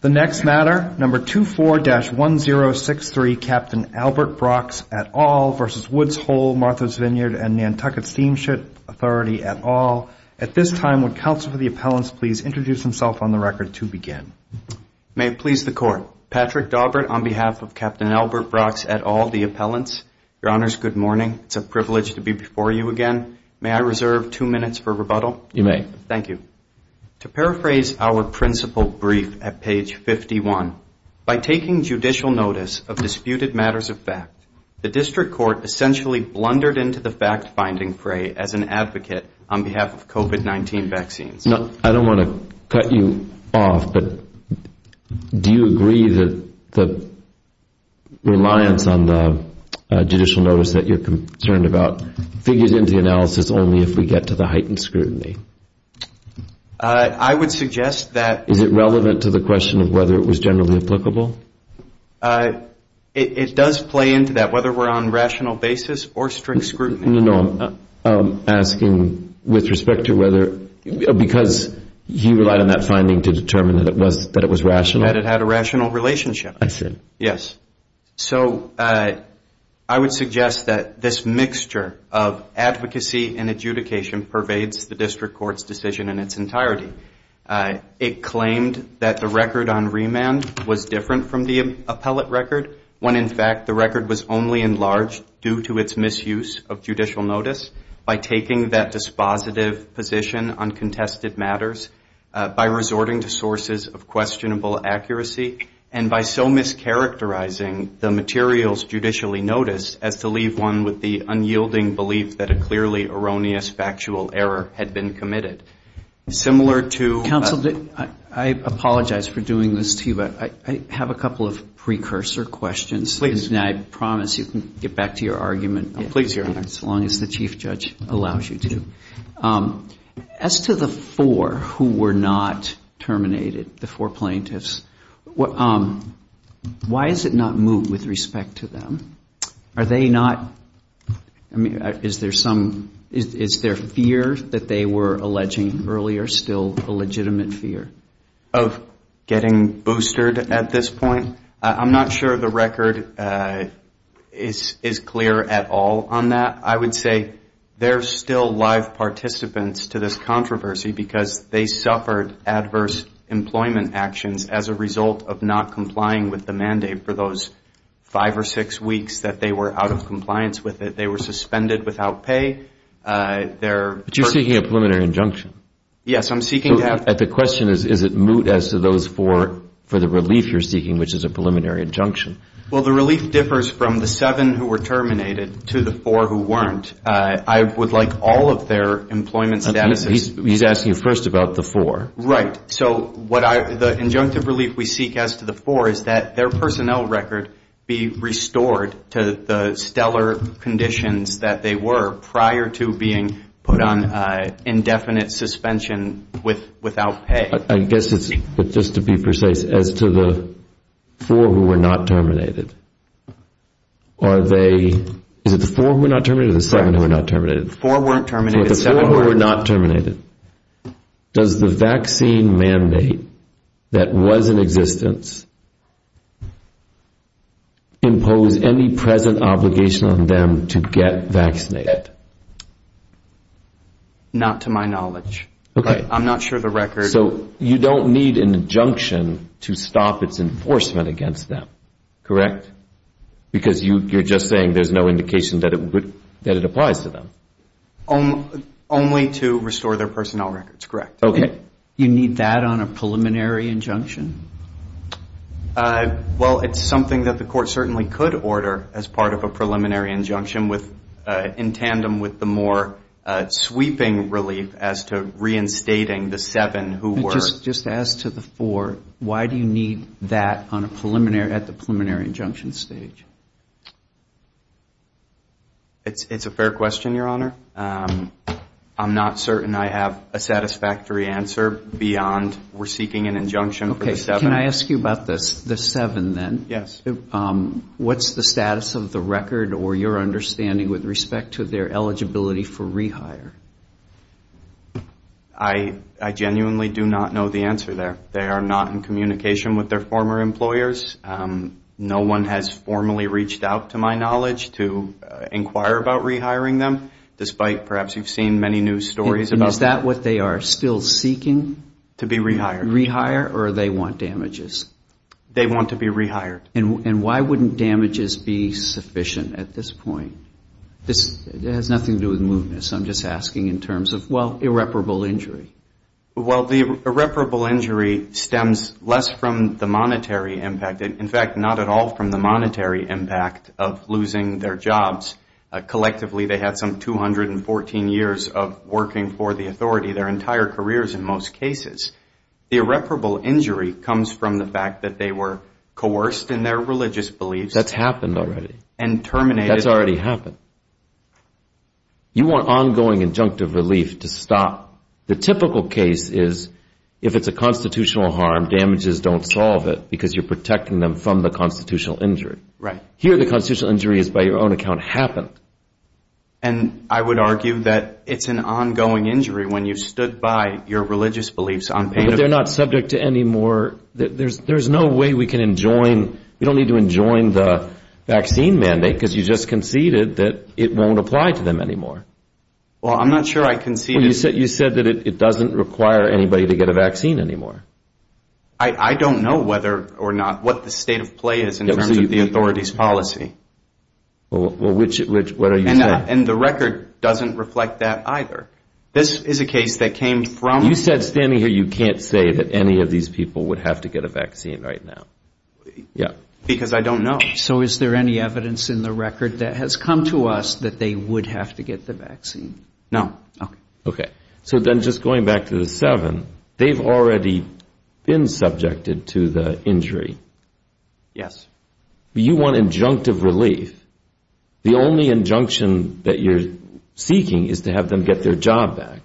The next matter, No. 24-1063, Captain Albert Brox et al. v. Woods Hole, Martha's Vyd & Nantucket S.S. Auth. et al. At this time, would Counsel for the Appellants please introduce himself on the record to begin. May it please the Court. Patrick Daubert on behalf of Captain Albert Brox et al., the Appellants. Your Honors, good morning. It's a privilege to be before you again. May I reserve two minutes for rebuttal? You may. Thank you. To paraphrase our principal brief at page 51, by taking judicial notice of disputed matters of fact, the District Court essentially blundered into the fact-finding fray as an advocate on behalf of COVID-19 vaccines. I don't want to cut you off, but do you agree that the reliance on the judicial notice that you're concerned about figures into the analysis only if we get to the heightened scrutiny? I would suggest that. Is it relevant to the question of whether it was generally applicable? It does play into that, whether we're on rational basis or strict scrutiny. No, I'm asking with respect to whether, because you relied on that finding to determine that it was rational. That it had a rational relationship. I see. Yes. So I would suggest that this mixture of advocacy and adjudication pervades the District Court's decision in its entirety. It claimed that the record on remand was different from the appellate record, when in fact the record was only enlarged due to its misuse of judicial notice by taking that dispositive position on contested matters, by resorting to sources of questionable accuracy, and by so mischaracterizing the materials judicially noticed, as to leave one with the unyielding belief that a clearly erroneous factual error had been committed. Similar to- Counsel, I apologize for doing this to you, but I have a couple of precursor questions. And I promise you can get back to your argument. Please, Your Honor. As long as the Chief Judge allows you to. As to the four who were not terminated, the four plaintiffs, why has it not moved with respect to them? Are they not- I mean, is there some- is their fear that they were alleging earlier still a legitimate fear? Of getting boosted at this point? I'm not sure the record is clear at all on that. I would say there's still live participants to this controversy because they suffered adverse employment actions as a result of not complying with the mandate for those five or six weeks that they were out of compliance with it. They were suspended without pay. They're- But you're seeking a preliminary injunction. Yes, I'm seeking to have- The question is, is it moot as to those four for the relief you're seeking, which is a preliminary injunction? Well, the relief differs from the seven who were terminated to the four who weren't. I would like all of their employment statuses- He's asking first about the four. Right. So what I- the injunctive relief we seek as to the four is that their personnel record be restored to the stellar conditions that they were prior to being put on indefinite suspension without pay. I guess it's just to be precise, as to the four who were not terminated, are they- Is it the four who were not terminated or the seven who were not terminated? The four weren't terminated. The four who were not terminated. Does the vaccine mandate that was in existence impose any present obligation on them to get vaccinated? Not to my knowledge. Okay. I'm not sure the record- So you don't need an injunction to stop its enforcement against them, correct? Because you're just saying there's no indication that it applies to them. Only to restore their personnel records, correct. Okay. You need that on a preliminary injunction? Well, it's something that the court certainly could order as part of a preliminary injunction with- in tandem with the more sweeping relief as to reinstating the seven who were- Just as to the four, why do you need that at the preliminary injunction stage? It's a fair question, Your Honor. I'm not certain I have a satisfactory answer beyond we're seeking an injunction for the seven. Can I ask you about the seven then? Yes. What's the status of the record or your understanding with respect to their eligibility for rehire? I genuinely do not know the answer there. They are not in communication with their former employers. No one has formally reached out to my knowledge to inquire about rehiring them, despite perhaps you've seen many news stories about- And is that what they are still seeking? To be rehired. Rehire or they want damages? They want to be rehired. And why wouldn't damages be sufficient at this point? It has nothing to do with mootness. I'm just asking in terms of, well, irreparable injury. Well, the irreparable injury stems less from the monetary impact. In fact, not at all from the monetary impact of losing their jobs. Collectively, they had some 214 years of working for the authority, their entire careers in most cases. The irreparable injury comes from the fact that they were coerced in their religious beliefs. That's happened already. And terminated. That's already happened. You want ongoing injunctive relief to stop. The typical case is if it's a constitutional harm, damages don't solve it because you're protecting them from the constitutional injury. Here the constitutional injury has, by your own account, happened. And I would argue that it's an ongoing injury when you've stood by your religious beliefs. But they're not subject to any more. There's no way we can enjoin. We don't need to enjoin the vaccine mandate because you just conceded that it won't apply to them anymore. Well, I'm not sure I conceded. You said that it doesn't require anybody to get a vaccine anymore. I don't know whether or not what the state of play is in terms of the authority's policy. Well, which, what are you saying? And the record doesn't reflect that either. This is a case that came from. You said standing here you can't say that any of these people would have to get a vaccine right now. Yeah. Because I don't know. So is there any evidence in the record that has come to us that they would have to get the vaccine? No. Okay. So then just going back to the seven, they've already been subjected to the injury. Yes. You want injunctive relief. The only injunction that you're seeking is to have them get their job back.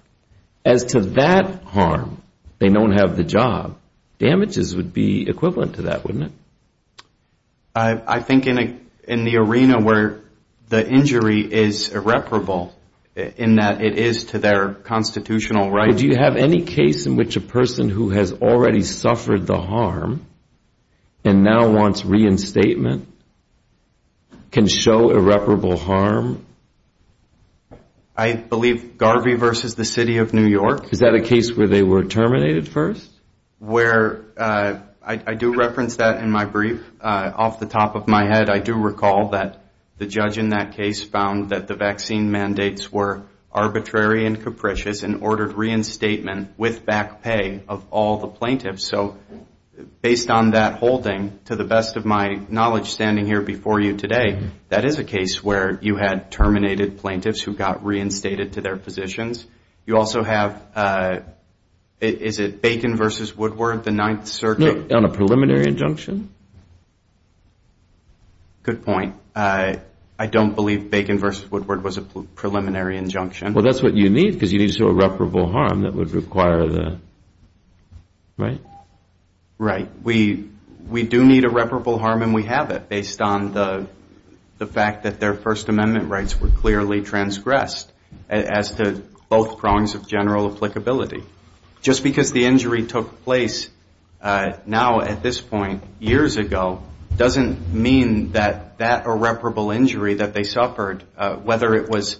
As to that harm, they don't have the job, damages would be equivalent to that, wouldn't it? I think in the arena where the injury is irreparable in that it is to their constitutional right. Do you have any case in which a person who has already suffered the harm and now wants reinstatement can show irreparable harm? I believe Garvey versus the City of New York. Is that a case where they were terminated first? Where, I do reference that in my brief. Off the top of my head, I do recall that the judge in that case found that the vaccine mandates were arbitrary and capricious and ordered reinstatement with back pay of all the plaintiffs. So based on that holding, to the best of my knowledge standing here before you today, that is a case where you had terminated plaintiffs who got reinstated to their positions. You also have, is it Bacon versus Woodward, the Ninth Circuit? On a preliminary injunction? Good point. I don't believe Bacon versus Woodward was a preliminary injunction. Well, that's what you need because you need irreparable harm that would require the, right? Right. We do need irreparable harm and we have it based on the fact that their First Amendment rights were clearly transgressed as to both prongs of general applicability. Just because the injury took place now at this point years ago doesn't mean that that irreparable injury that they suffered, whether it was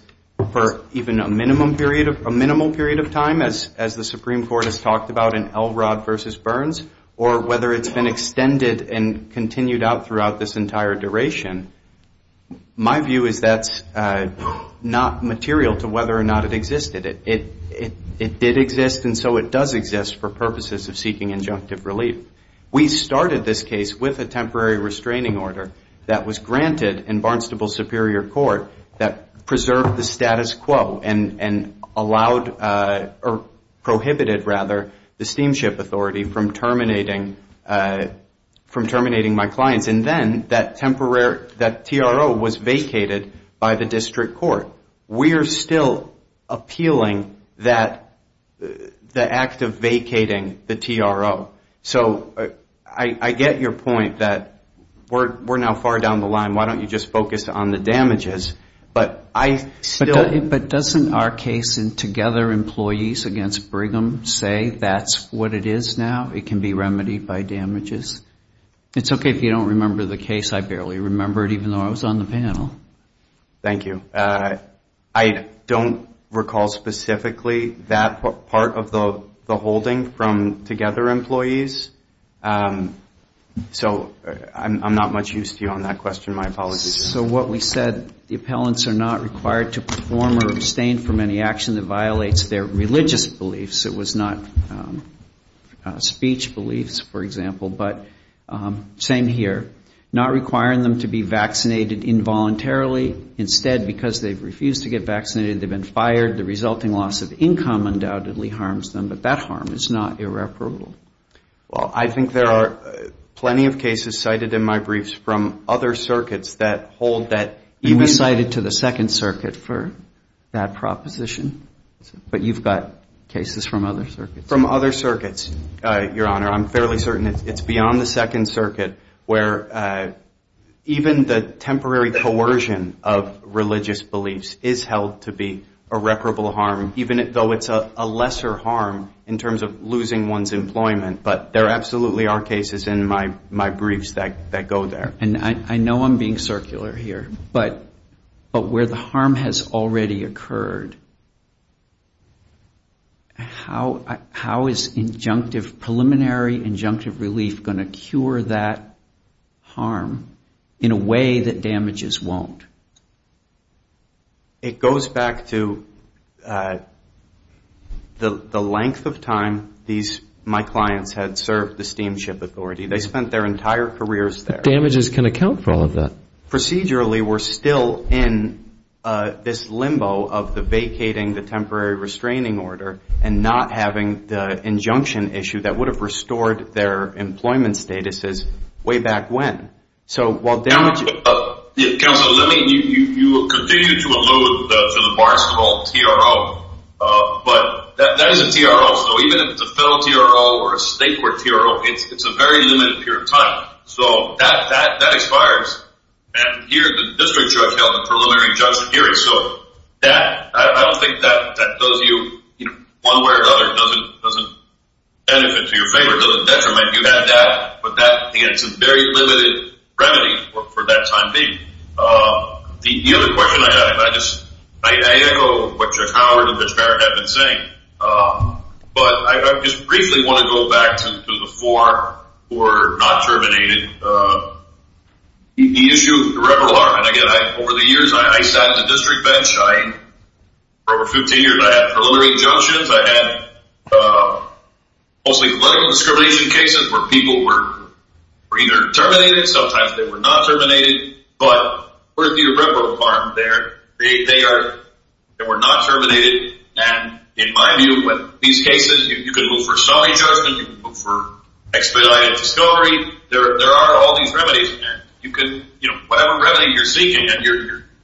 for even a minimum period of time as the Supreme Court has talked about in Elrod versus Burns or whether it's been extended and continued out throughout this entire duration, my view is that's not material to whether or not it existed. It did exist and so it does exist for purposes of seeking injunctive relief. We started this case with a temporary restraining order that was granted in Barnstable Superior Court that preserved the status quo and allowed, or prohibited rather, the Steamship Authority from terminating my clients. And then that TRO was vacated by the District Court. We're still appealing that, the act of vacating the TRO. So I get your point that we're now far down the line. Why don't you just focus on the damages? But I still... But doesn't our case in Together Employees against Brigham say that's what it is now? It can be remedied by damages? It's okay if you don't remember the case. I barely remember it even though I was on the panel. Thank you. I don't recall specifically that part of the holding from Together Employees. So I'm not much use to you on that question. My apologies. So what we said, the appellants are not required to perform or abstain from any action that violates their religious beliefs. It was not speech beliefs, for example. But same here, not requiring them to be vaccinated involuntarily. Instead, because they've refused to get vaccinated, they've been fired, the resulting loss of income undoubtedly harms them. But that harm is not irreparable. Well, I think there are plenty of cases cited in my briefs from other circuits that hold that... You've been cited to the Second Circuit for that proposition. But you've got cases from other circuits. From other circuits, Your Honor. I'm fairly certain it's beyond the Second Circuit where even the temporary coercion of religious beliefs is held to be irreparable harm, even though it's a lesser harm in terms of losing one's employment. But there absolutely are cases in my briefs that go there. And I know I'm being circular here. But where the harm has already occurred, how is preliminary injunctive relief going to cure that harm in a way that damages won't? It goes back to the length of time my clients had served the steamship authority. They spent their entire careers there. But damages can account for all of that. But procedurally, we're still in this limbo of the vacating the temporary restraining order and not having the injunction issue that would have restored their employment statuses way back when. So while damages... Counsel, let me... You continue to allude to the Barstool TRO. But that is a TRO. So even if it's a federal TRO or a state court TRO, it's a very limited period of time. So that expires. And here, the district judge held the preliminary injunction hearing. So that, I don't think that does you one way or the other. It doesn't benefit to your favor. It doesn't detriment. You had that. But that, again, it's a very limited remedy for that time being. The other question I have, and I just echo what Judge Howard and Judge Barrett have been saying, but I just briefly want to go back to the four who were not terminated. The issue of the reverberant alarm. And, again, over the years, I sat at the district bench. For over 15 years, I had preliminary injunctions. I had mostly political discrimination cases where people were either terminated. Sometimes they were not terminated. But with the reverberant alarm there, they were not terminated. And in my view, with these cases, you can move for summary judgment. You can move for expedited discovery. There are all these remedies. And you can, you know, whatever remedy you're seeking, and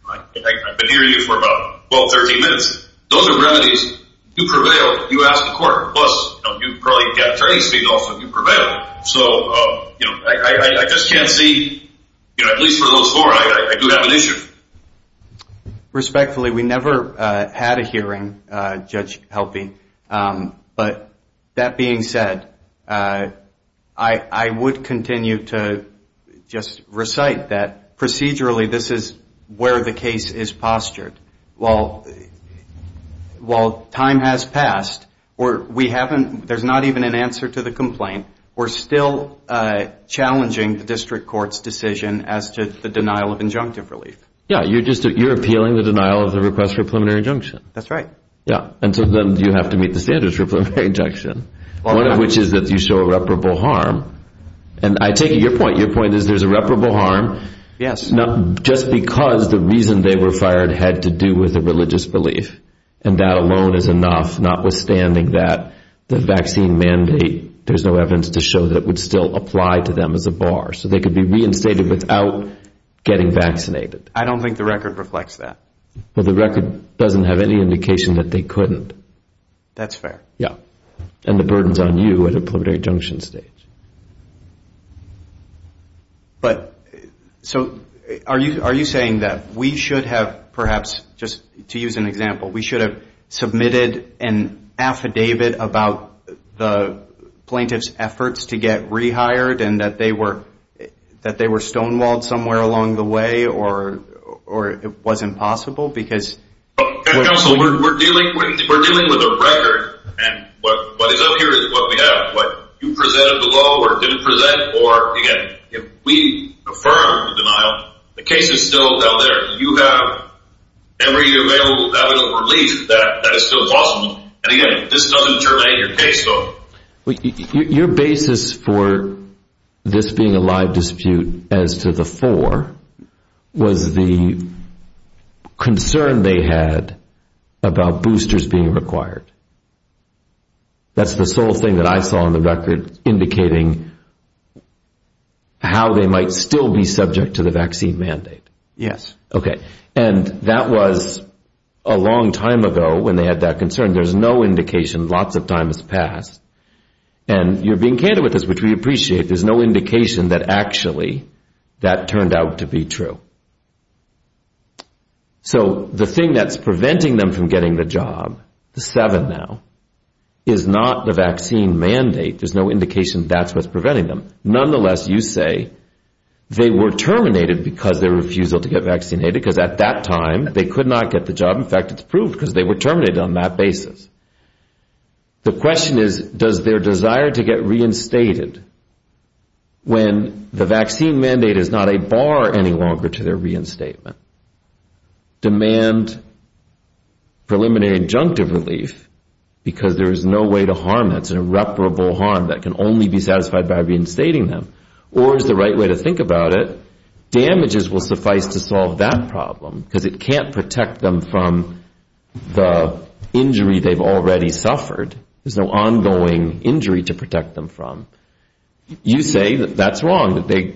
I've been hearing you for about 12, 13 minutes. Those are remedies. You prevail. You ask the court. Plus, you probably get attorney's fees also if you prevail. So, you know, I just can't see, you know, at least for those four, I do have an issue. Respectfully, we never had a hearing, Judge Helpe. But that being said, I would continue to just recite that procedurally this is where the case is postured. While time has passed, or we haven't, there's not even an answer to the complaint, we're still challenging the district court's decision as to the denial of injunctive relief. Yeah, you're appealing the denial of the request for preliminary injunction. That's right. Yeah, and so then you have to meet the standards for preliminary injunction, one of which is that you show irreparable harm. And I take your point. Your point is there's irreparable harm. Yes. Just because the reason they were fired had to do with a religious belief, and that alone is enough, notwithstanding that the vaccine mandate, there's no evidence to show that it would still apply to them as a bar. So they could be reinstated without getting vaccinated. I don't think the record reflects that. Well, the record doesn't have any indication that they couldn't. That's fair. Yeah. And the burden's on you at a preliminary injunction stage. But so are you saying that we should have perhaps, just to use an example, we should have submitted an affidavit about the plaintiff's efforts to get rehired and that they were stonewalled somewhere along the way or it wasn't possible? Counsel, we're dealing with a record, and what is up here is what we have. What you presented below or didn't present or, again, if we affirm the denial, the case is still down there. You have every available evidence of relief that is still possible. And, again, this doesn't terminate your case. Your basis for this being a live dispute as to the four was the concern they had about boosters being required. That's the sole thing that I saw in the record indicating how they might still be subject to the vaccine mandate. Yes. Okay. And that was a long time ago when they had that concern. There's no indication. Lots of time has passed. And you're being candid with us, which we appreciate. There's no indication that actually that turned out to be true. So the thing that's preventing them from getting the job, the seven now, is not the vaccine mandate. There's no indication that's what's preventing them. Nonetheless, you say they were terminated because of their refusal to get vaccinated because at that time they could not get the job. In fact, it's proved because they were terminated on that basis. The question is, does their desire to get reinstated when the vaccine mandate is not a bar any longer to their reinstatement, demand preliminary injunctive relief because there is no way to harm that? It's an irreparable harm that can only be satisfied by reinstating them. Or is the right way to think about it, damages will suffice to solve that problem because it can't protect them from the injury they've already suffered. There's no ongoing injury to protect them from. You say that that's wrong, that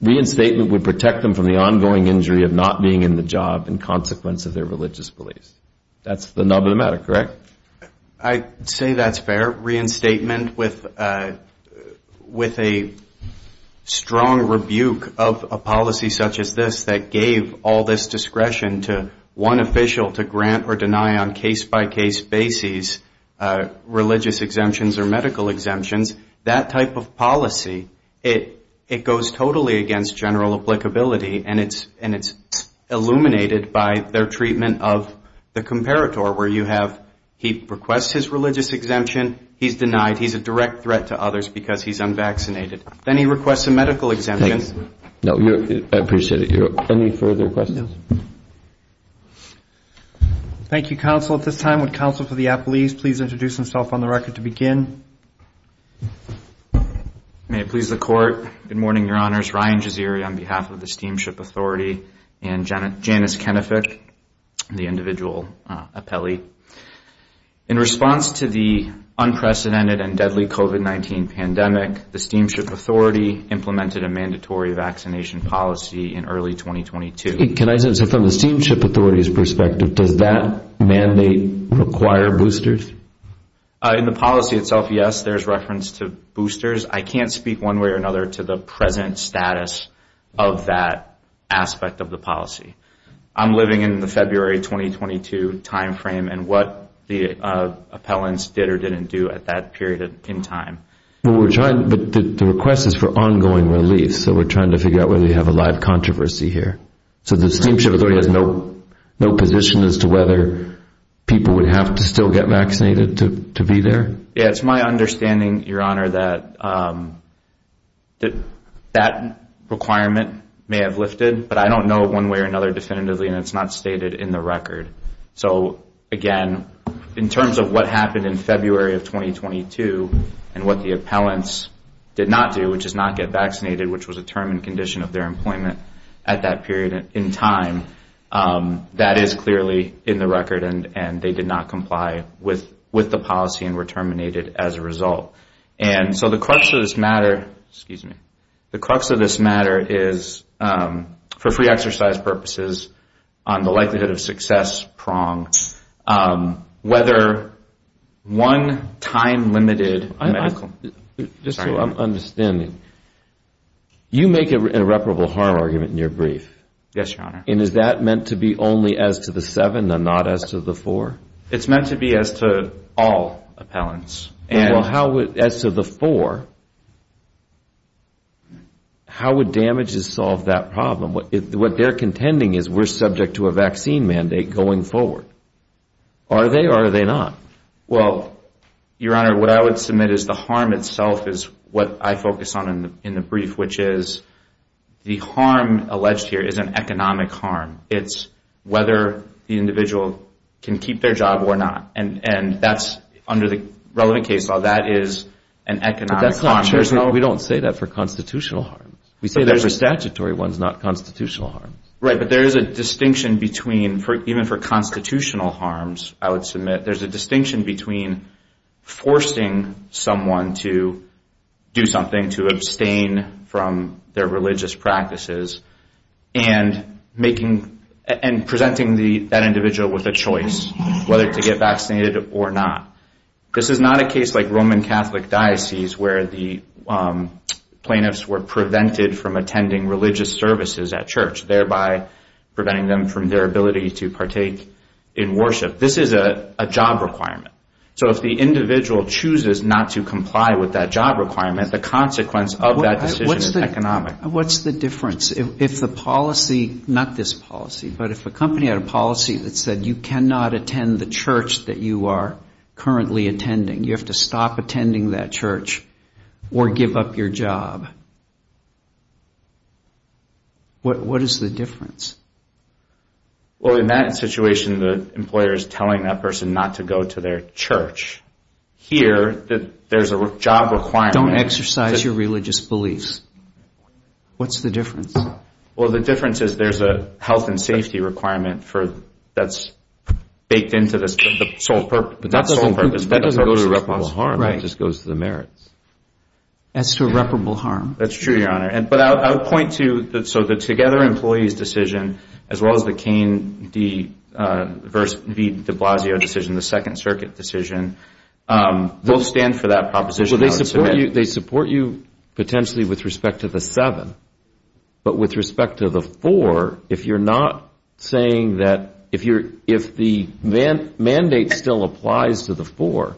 reinstatement would protect them from the ongoing injury of not being in the job and consequence of their religious beliefs. That's the nub of the matter, correct? I'd say that's fair, reinstatement with a strong rebuke of a policy such as this that gave all this discretion to one official to grant or deny on case-by-case basis religious exemptions or medical exemptions. That type of policy, it goes totally against general applicability and it's illuminated by their treatment of the comparator where you have, he requests his religious exemption, he's denied. He's a direct threat to others because he's unvaccinated. Then he requests a medical exemption. I appreciate it. Any further questions? Thank you, counsel. At this time, would counsel for the appellees please introduce themselves on the record to begin? May it please the court. Good morning, your honors. Ryan Jazeera on behalf of the Steamship Authority and Janice Kenefick, the individual appellee. In response to the unprecedented and deadly COVID-19 pandemic, the Steamship Authority implemented a mandatory vaccination policy in early 2022. From the Steamship Authority's perspective, does that mandate require boosters? In the policy itself, yes, there's reference to boosters. I can't speak one way or another to the present status of that aspect of the policy. I'm living in the February 2022 timeframe and what the appellants did or didn't do at that period in time. The request is for ongoing relief, so we're trying to figure out whether you have a live controversy here. So the Steamship Authority has no position as to whether people would have to still get vaccinated to be there? It's my understanding, your honor, that that requirement may have lifted, but I don't know one way or another definitively and it's not stated in the record. So again, in terms of what happened in February of 2022 and what the appellants did not do, which is not get vaccinated, which was a term and condition of their employment at that period in time, that is clearly in the record. And they did not comply with the policy and were terminated as a result. And so the crux of this matter is for free exercise purposes on the likelihood of success, whether one time limited medical... Just so I'm understanding, you make an irreparable harm argument in your brief? Yes, your honor. And is that meant to be only as to the seven and not as to the four? It's meant to be as to all appellants. As to the four, how would damages solve that problem? What they're contending is we're subject to a vaccine mandate going forward. Are they or are they not? Well, your honor, what I would submit is the harm itself is what I focus on in the brief, which is the harm alleged here is an economic harm. It's whether the individual can keep their job or not. And that's under the relevant case law, that is an economic harm. We don't say that for constitutional harms. We say that for statutory ones, not constitutional harms. Right, but there is a distinction between, even for constitutional harms, I would submit, there's a distinction between forcing someone to do something, forcing someone to abstain from their religious practices, and presenting that individual with a choice, whether to get vaccinated or not. This is not a case like Roman Catholic diocese where the plaintiffs were prevented from attending religious services at church, thereby preventing them from their ability to partake in worship. This is a job requirement. So if the individual chooses not to comply with that job requirement, the consequence of that decision is economic. What's the difference if the policy, not this policy, but if a company had a policy that said you cannot attend the church that you are currently attending? You have to stop attending that church or give up your job. What is the difference? Well, in that situation, the employer is telling that person not to go to their church. Here, there's a job requirement. Don't exercise your religious beliefs. What's the difference? Well, the difference is there's a health and safety requirement that's baked into the sole purpose. But that doesn't go to reputable harm. It just goes to the merits. As to reputable harm. That's true, Your Honor. But I would point to the Together Employees decision, as well as the Cain v. de Blasio decision, the Second Circuit decision. They'll stand for that proposition. They support you potentially with respect to the seven. But with respect to the four, if you're not saying that if the mandate still applies to the four,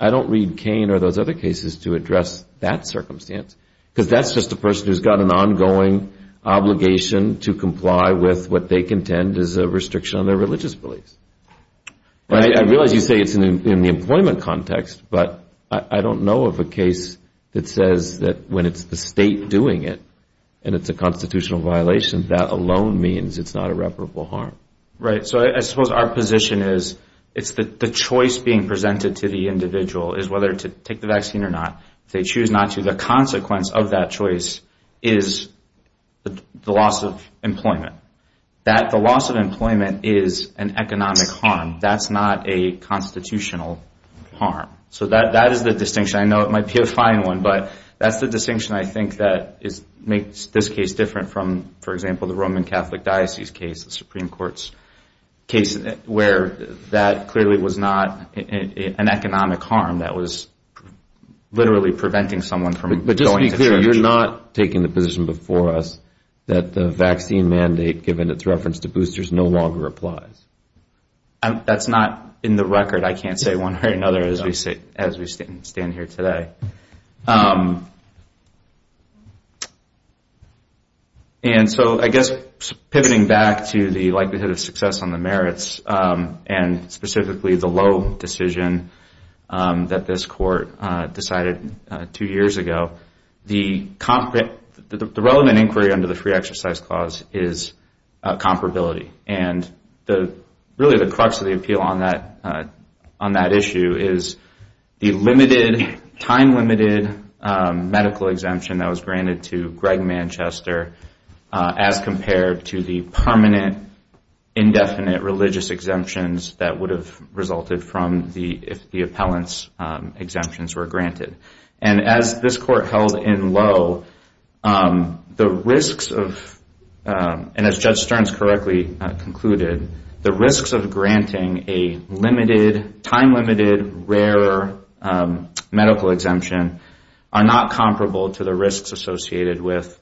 I don't read Cain or those other cases to address that circumstance. Because that's just a person who's got an ongoing obligation to comply with what they contend is a restriction on their religious beliefs. I realize you say it's in the employment context, but I don't know of a case that says that when it's the state doing it, and it's a constitutional violation, that alone means it's not irreparable harm. Right. So I suppose our position is it's the choice being presented to the individual is whether to take the vaccine or not. If they choose not to, the consequence of that choice is the loss of employment. The loss of employment is an economic harm. That's not a constitutional harm. So that is the distinction. I know it might be a fine one, but that's the distinction I think that makes this case different from, for example, the Roman Catholic Diocese case, the Supreme Court's case, where that clearly was not an economic harm. That was literally preventing someone from going to church. But just to be clear, you're not taking the position before us that the vaccine mandate, given its reference to boosters, no longer applies? That's not in the record. I can't say one way or another as we stand here today. And so I guess pivoting back to the likelihood of success on the merits, and specifically the low decision, that's not a constitutional harm. That's not something that this Court decided two years ago. The relevant inquiry under the Free Exercise Clause is comparability. And really the crux of the appeal on that issue is the limited, time-limited medical exemption that was granted to Greg Manchester as compared to the permanent, indefinite religious exemptions that would have resulted from the appellant's decision. And as this Court held in low, the risks of, and as Judge Stearns correctly concluded, the risks of granting a limited, time-limited, rare medical exemption are not comparable to the risks associated with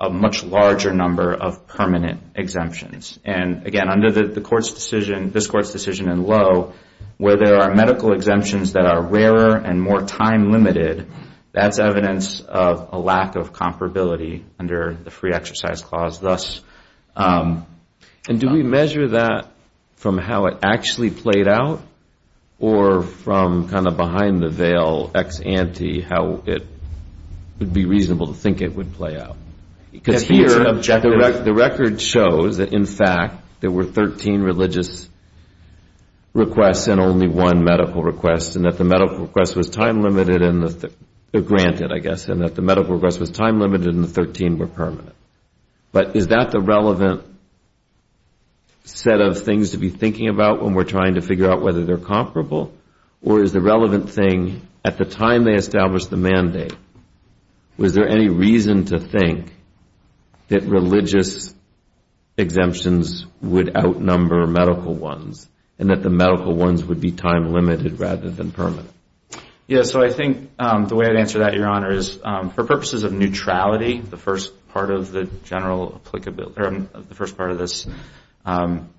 a much larger number of permanent exemptions. And again, under this Court's decision in low, where there are medical exemptions that are rarer and more time-limited, that's evidence of a lack of comparability under the Free Exercise Clause thus. And do we measure that from how it actually played out, or from kind of behind the veil, ex ante, how it would be reasonable to think it would play out? Because here, the record shows that, in fact, there were 13 religious requests and only one medical request, and that the medical request was time-limited, or granted, I guess, and that the medical request was time-limited and the 13 were permanent. But is that the relevant set of things to be thinking about when we're trying to figure out whether they're comparable? Or is the relevant thing, at the time they established the mandate, was there any reason to think that religious exemptions would outnumber medical ones, and that the medical ones would be time-limited rather than permanent? Yes, so I think the way I'd answer that, Your Honor, is for purposes of neutrality, the first part of the general applicability, or the first part of this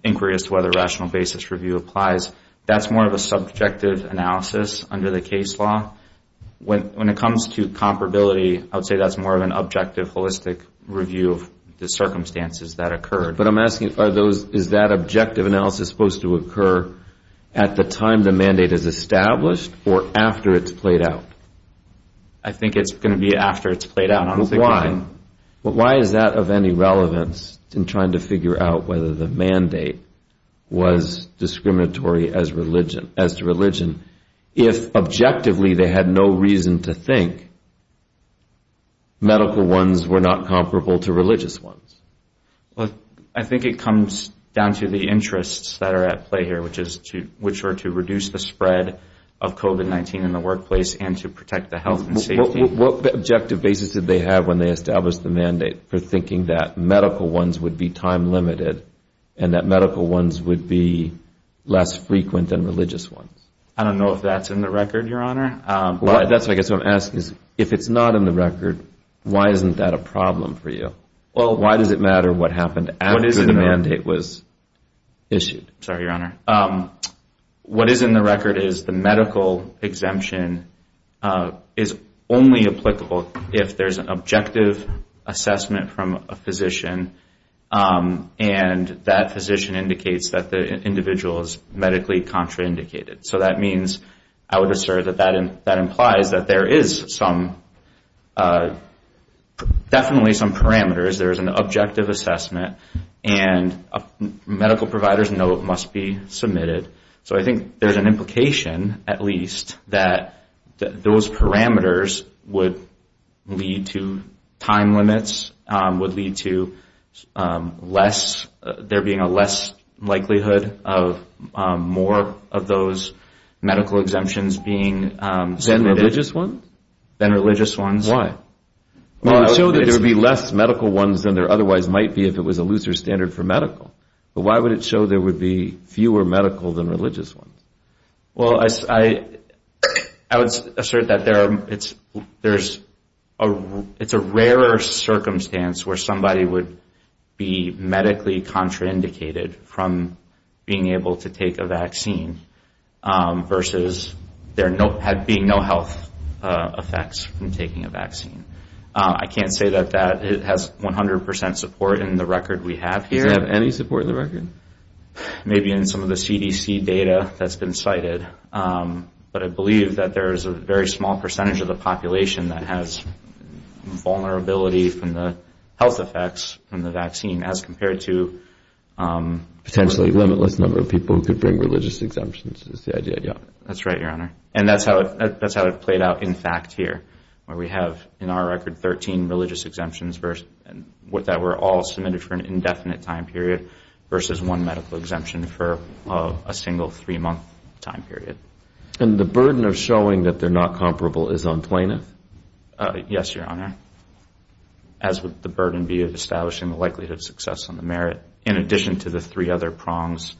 inquiry as to whether a rational basis review applies, that's more of a subjective question. That's more of an objective analysis under the case law. When it comes to comparability, I would say that's more of an objective, holistic review of the circumstances that occurred. But I'm asking, is that objective analysis supposed to occur at the time the mandate is established, or after it's played out? I think it's going to be after it's played out. But why is that of any relevance in trying to figure out whether the mandate was discriminatory as to religion, if objectively they had no reason to think medical ones were not comparable to religious ones? I think it comes down to the interests that are at play here, which are to reduce the spread of COVID-19 in the workplace and to protect the health and safety. What objective basis did they have when they established the mandate for thinking that medical ones would be time-limited and that medical ones would be less frequent than religious ones? I don't know if that's in the record, Your Honor. I guess what I'm asking is if it's not in the record, why isn't that a problem for you? Why does it matter what happened after the mandate was issued? Sorry, Your Honor. What is in the record is the medical exemption is only applicable if there's an objective assessment from a physician and that physician indicates that the individual is medically contraindicated. So that means, I would assert that that implies that there is definitely some parameters. There is an objective assessment and medical providers know it must be submitted. So I think there's an implication, at least, that those parameters would lead to time limits, would lead to there being a less likelihood of more of those medical exemptions being than religious ones. Why? It would show that there would be less medical ones than there otherwise might be if it was a looser standard for medical. But why would it show there would be fewer medical than religious ones? Well, I would assert that it's a rarer circumstance where somebody would be medically contraindicated from being able to take a vaccine versus there being no health effects from taking a vaccine. I can't say that that has 100% support in the record we have here. Does it have any support in the record? Maybe in some of the CDC data that's been cited. But I believe that there is a very small percentage of the population that has vulnerability from the health effects from the vaccine as compared to potentially limitless number of people who could bring religious exemptions. That's right, Your Honor. And that's how it played out in fact here, where we have in our record 13 religious exemptions that were all submitted for an indefinite time period versus one medical exemption for a single three-month time period. And the burden of showing that they're not comparable is unplaintive? Yes, Your Honor. As would the burden be of establishing the likelihood of success on the merit in addition to the three other prongs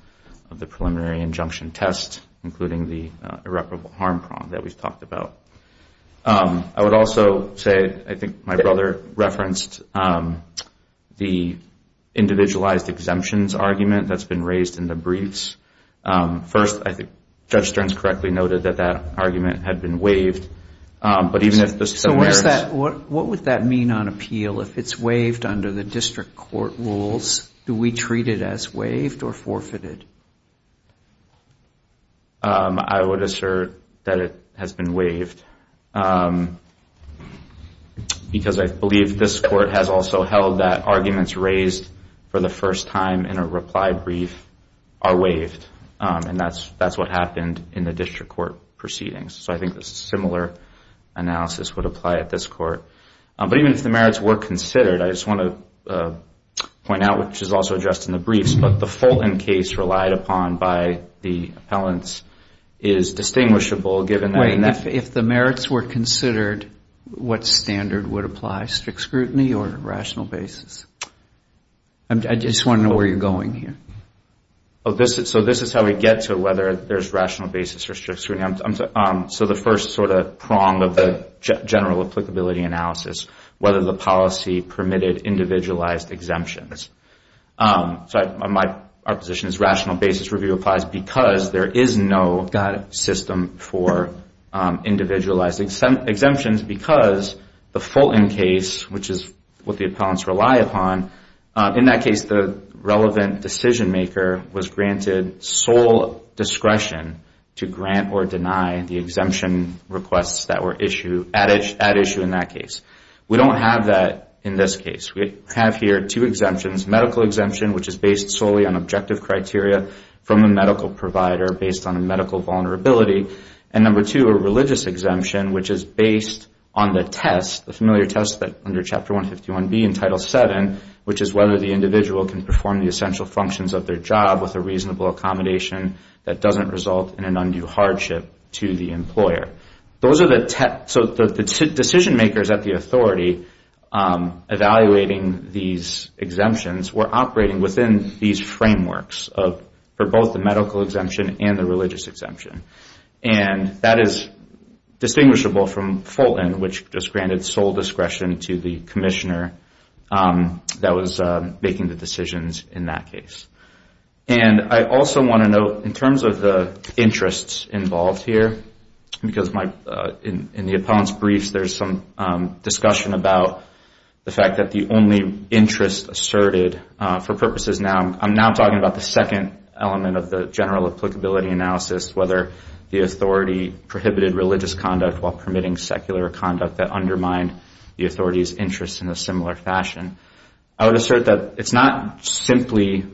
of the preliminary injunction test, including the irreparable harm prong that we've talked about. I would also say I think my brother referenced the individualized exemptions argument that's been raised in the briefs. First, I think Judge Stearns correctly noted that that argument had been waived. So what would that mean on appeal if it's waived under the district court rules? Do we treat it as waived or forfeited? I would assert that it has been waived because I believe this court has also held that arguments raised for the first time in a reply brief are waived. And that's what happened in the district court proceedings. So I think a similar analysis would apply at this court. But even if the merits were considered, I just want to point out, which is also addressed in the briefs, but the Fulton case relied upon by the appellants is distinguishable given that... If the merits were considered, what standard would apply? Strict scrutiny or rational basis? I just want to know where you're going here. So the first sort of prong of the general applicability analysis, whether the policy permitted individualized exemptions. Our position is rational basis review applies because there is no system for individualized exemptions. Because the Fulton case, which is what the appellants rely upon, in that case the relevant decision maker was granted sole discretion to grant or deny the exemption requests that were at issue in that case. We don't have that in this case. We have here two exemptions, medical exemption, which is based solely on objective criteria from a medical provider based on a medical vulnerability. And number two, a religious exemption, which is based on the test, the familiar test under Chapter 151B in Title VII, which is whether the individual can perform the essential functions of their job with a reasonable accommodation that doesn't result in an undue hardship to the employer. So the decision makers at the authority evaluating these exemptions were operating within these frameworks for both the medical exemption and the religious exemption. And that is distinguishable from Fulton, which just granted sole discretion to the commissioner that was making the decisions in that case. And I also want to note, in terms of the interests involved here, because in the appellant's briefs there's some discussion about the fact that the only interest asserted for purposes now, I'm now talking about the second element of the general applicability analysis, whether the appellant is going to be exempted or not. And I would assert that the authority prohibited religious conduct while permitting secular conduct that undermined the authority's interest in a similar fashion. I would assert that it's not simply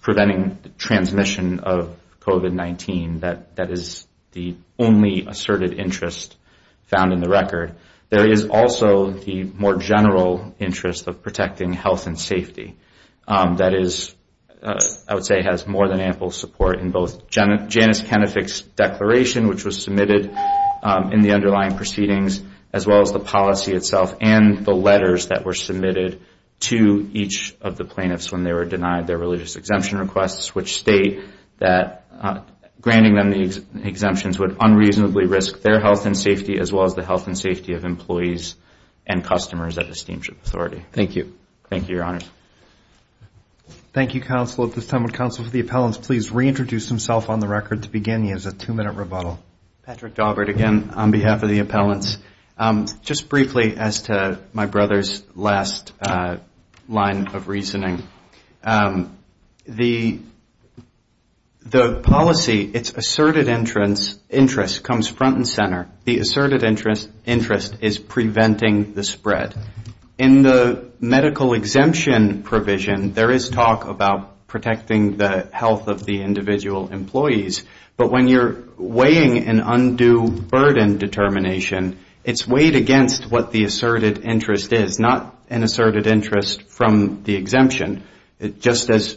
preventing transmission of COVID-19 that is the only asserted interest found in the record. There is also the more general interest of protecting health and safety. That is, I would say, has more than ample support in both Janice Kenefick's declaration, which was submitted in the underlying proceedings, as well as the policy itself and the letters that were submitted to each of the plaintiffs when they were denied their religious exemption requests, which state that granting them the exemptions would unreasonably risk their health and safety as well as the health and safety of employees and customers at the Steamship Authority. Thank you. Thank you, Your Honor. Thank you, counsel. At this time, would counsel for the appellants please reintroduce himself on the record to begin. He has a two-minute rebuttal. Patrick Daubert again on behalf of the appellants. Just briefly as to my brother's last line of reasoning, the policy, its asserted interest comes front and center. The asserted interest is preventing the spread. In the medical exemption provision, there is talk about protecting the health of the individual employees, but when you're weighing an undue burden determination, it's weighed against what the asserted interest is, not an asserted interest from the exemption. Just as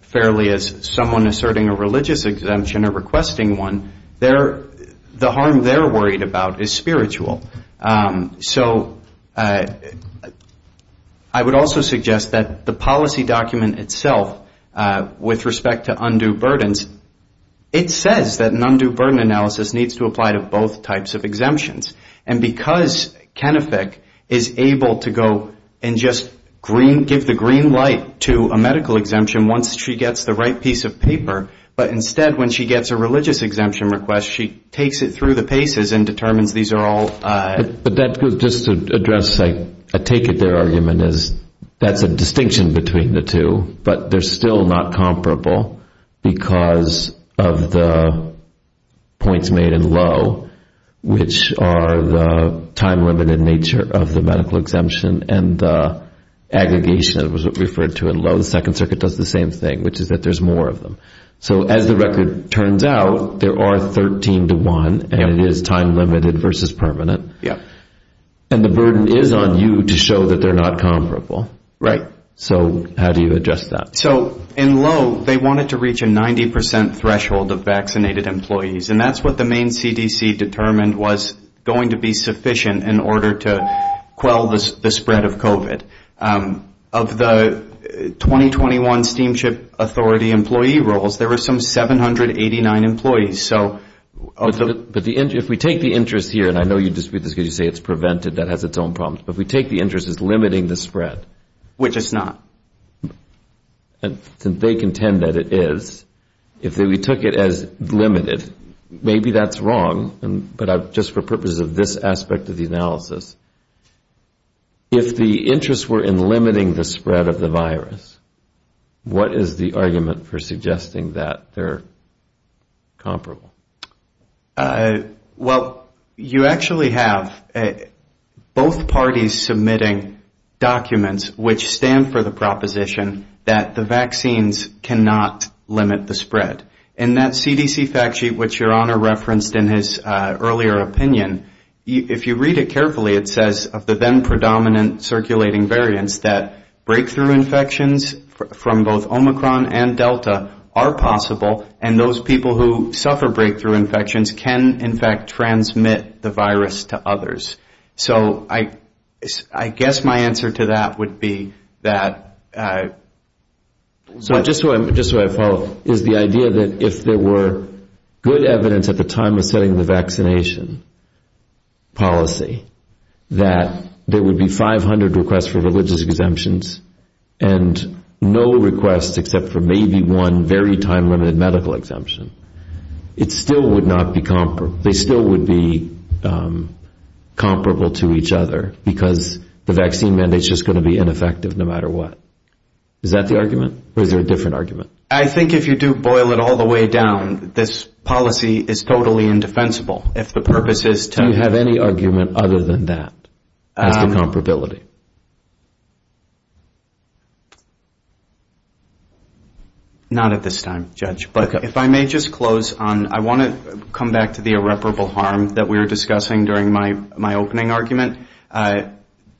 fairly as someone asserting a religious exemption or requesting one, the harm they're worried about is spiritual. So it's not a religious exemption, it's a spiritual exemption. I would also suggest that the policy document itself with respect to undue burdens, it says that an undue burden analysis needs to apply to both types of exemptions. And because Kennefick is able to go and just give the green light to a medical exemption once she gets the right piece of paper, but instead when she gets a religious exemption request, she takes it through the paces and determines these are all medical exemptions. I would just address a take-it-there argument is that's a distinction between the two, but they're still not comparable because of the points made in low, which are the time-limited nature of the medical exemption, and the aggregation that was referred to in low. The Second Circuit does the same thing, which is that there's more of them. So as the record turns out, there are 13 to 1, and it is time-limited versus permanent. And the burden is on you to show that they're not comparable. So how do you address that? So in low, they wanted to reach a 90% threshold of vaccinated employees, and that's what the main CDC determined was going to be sufficient in order to quell the spread of COVID. Of the 2021 Steamship Authority employee roles, there were some 789 employees. But if we take the interest here, and I know you dispute this because you say it's prevented, that has its own problems, but if we take the interest as limiting the spread, which it's not, and they contend that it is, if we took it as limited, maybe that's wrong, but just for purposes of this aspect of the analysis, if the interest were in limiting the spread of the virus, what is the argument for suggesting that they're comparable? Well, you actually have both parties submitting documents which stand for the proposition that the vaccines cannot limit the spread. And that CDC fact sheet, which your Honor referenced in his earlier opinion, if you read it carefully, it says of the then-predominant circulating variants that breakthrough infections from both Omicron and Delta are possible, and those people who suffer breakthrough infections are not. And those people who suffer breakthrough infections can, in fact, transmit the virus to others. So I guess my answer to that would be that... Just so I follow, is the idea that if there were good evidence at the time of setting the vaccination policy that there would be 500 requests for religious exemptions and no requests except for maybe one very time-limited medical exemption, they still would be comparable to each other because the vaccine mandate is just going to be ineffective no matter what. Is that the argument? Or is there a different argument? I think if you do boil it all the way down, this policy is totally indefensible. Do you have any argument other than that as to comparability? Not at this time, Judge. But if I may just close on, I want to come back to the irreparable harm that we were discussing during my opening argument.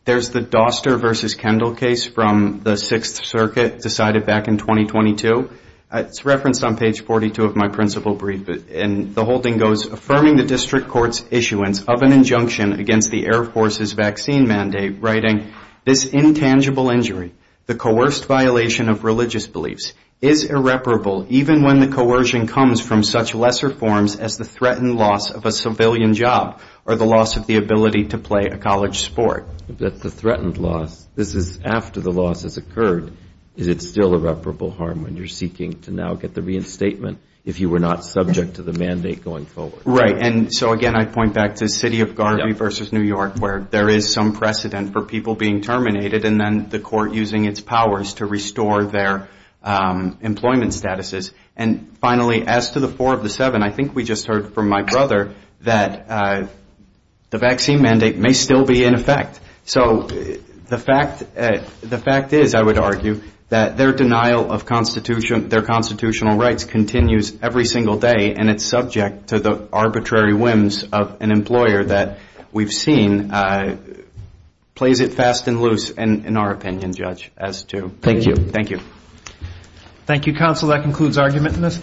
There's the Doster v. Kendall case from the Sixth Circuit decided back in 2022. It's referenced on page 42 of my principal brief. And the whole thing goes, affirming the district court's issuance of an injunction against the Air Force's vaccine mandate, writing, This intangible injury, the coerced violation of religious beliefs, is irreparable even when the coercion comes from such lesser forms as the threatened loss of a civilian job or the loss of the ability to play a college sport. That's the threatened loss. This is after the loss has occurred. Is it still irreparable harm when you're seeking to now get the reinstatement if you were not subject to the mandate going forward? Right. And so, again, I point back to City of Garvey v. New York where there is some precedent for people being terminated and then the court using its powers to restore their employment statuses. And finally, as to the four of the seven, I think we just heard from my brother that the vaccine mandate may still be in effect. So the fact is, I would argue, that their denial of their constitutional rights continues every single day and it's subject to the arbitrary whims of an employer that we've seen plays it fast and loose, in our opinion, Judge. Thank you. Thank you, counsel. That concludes argument in this case.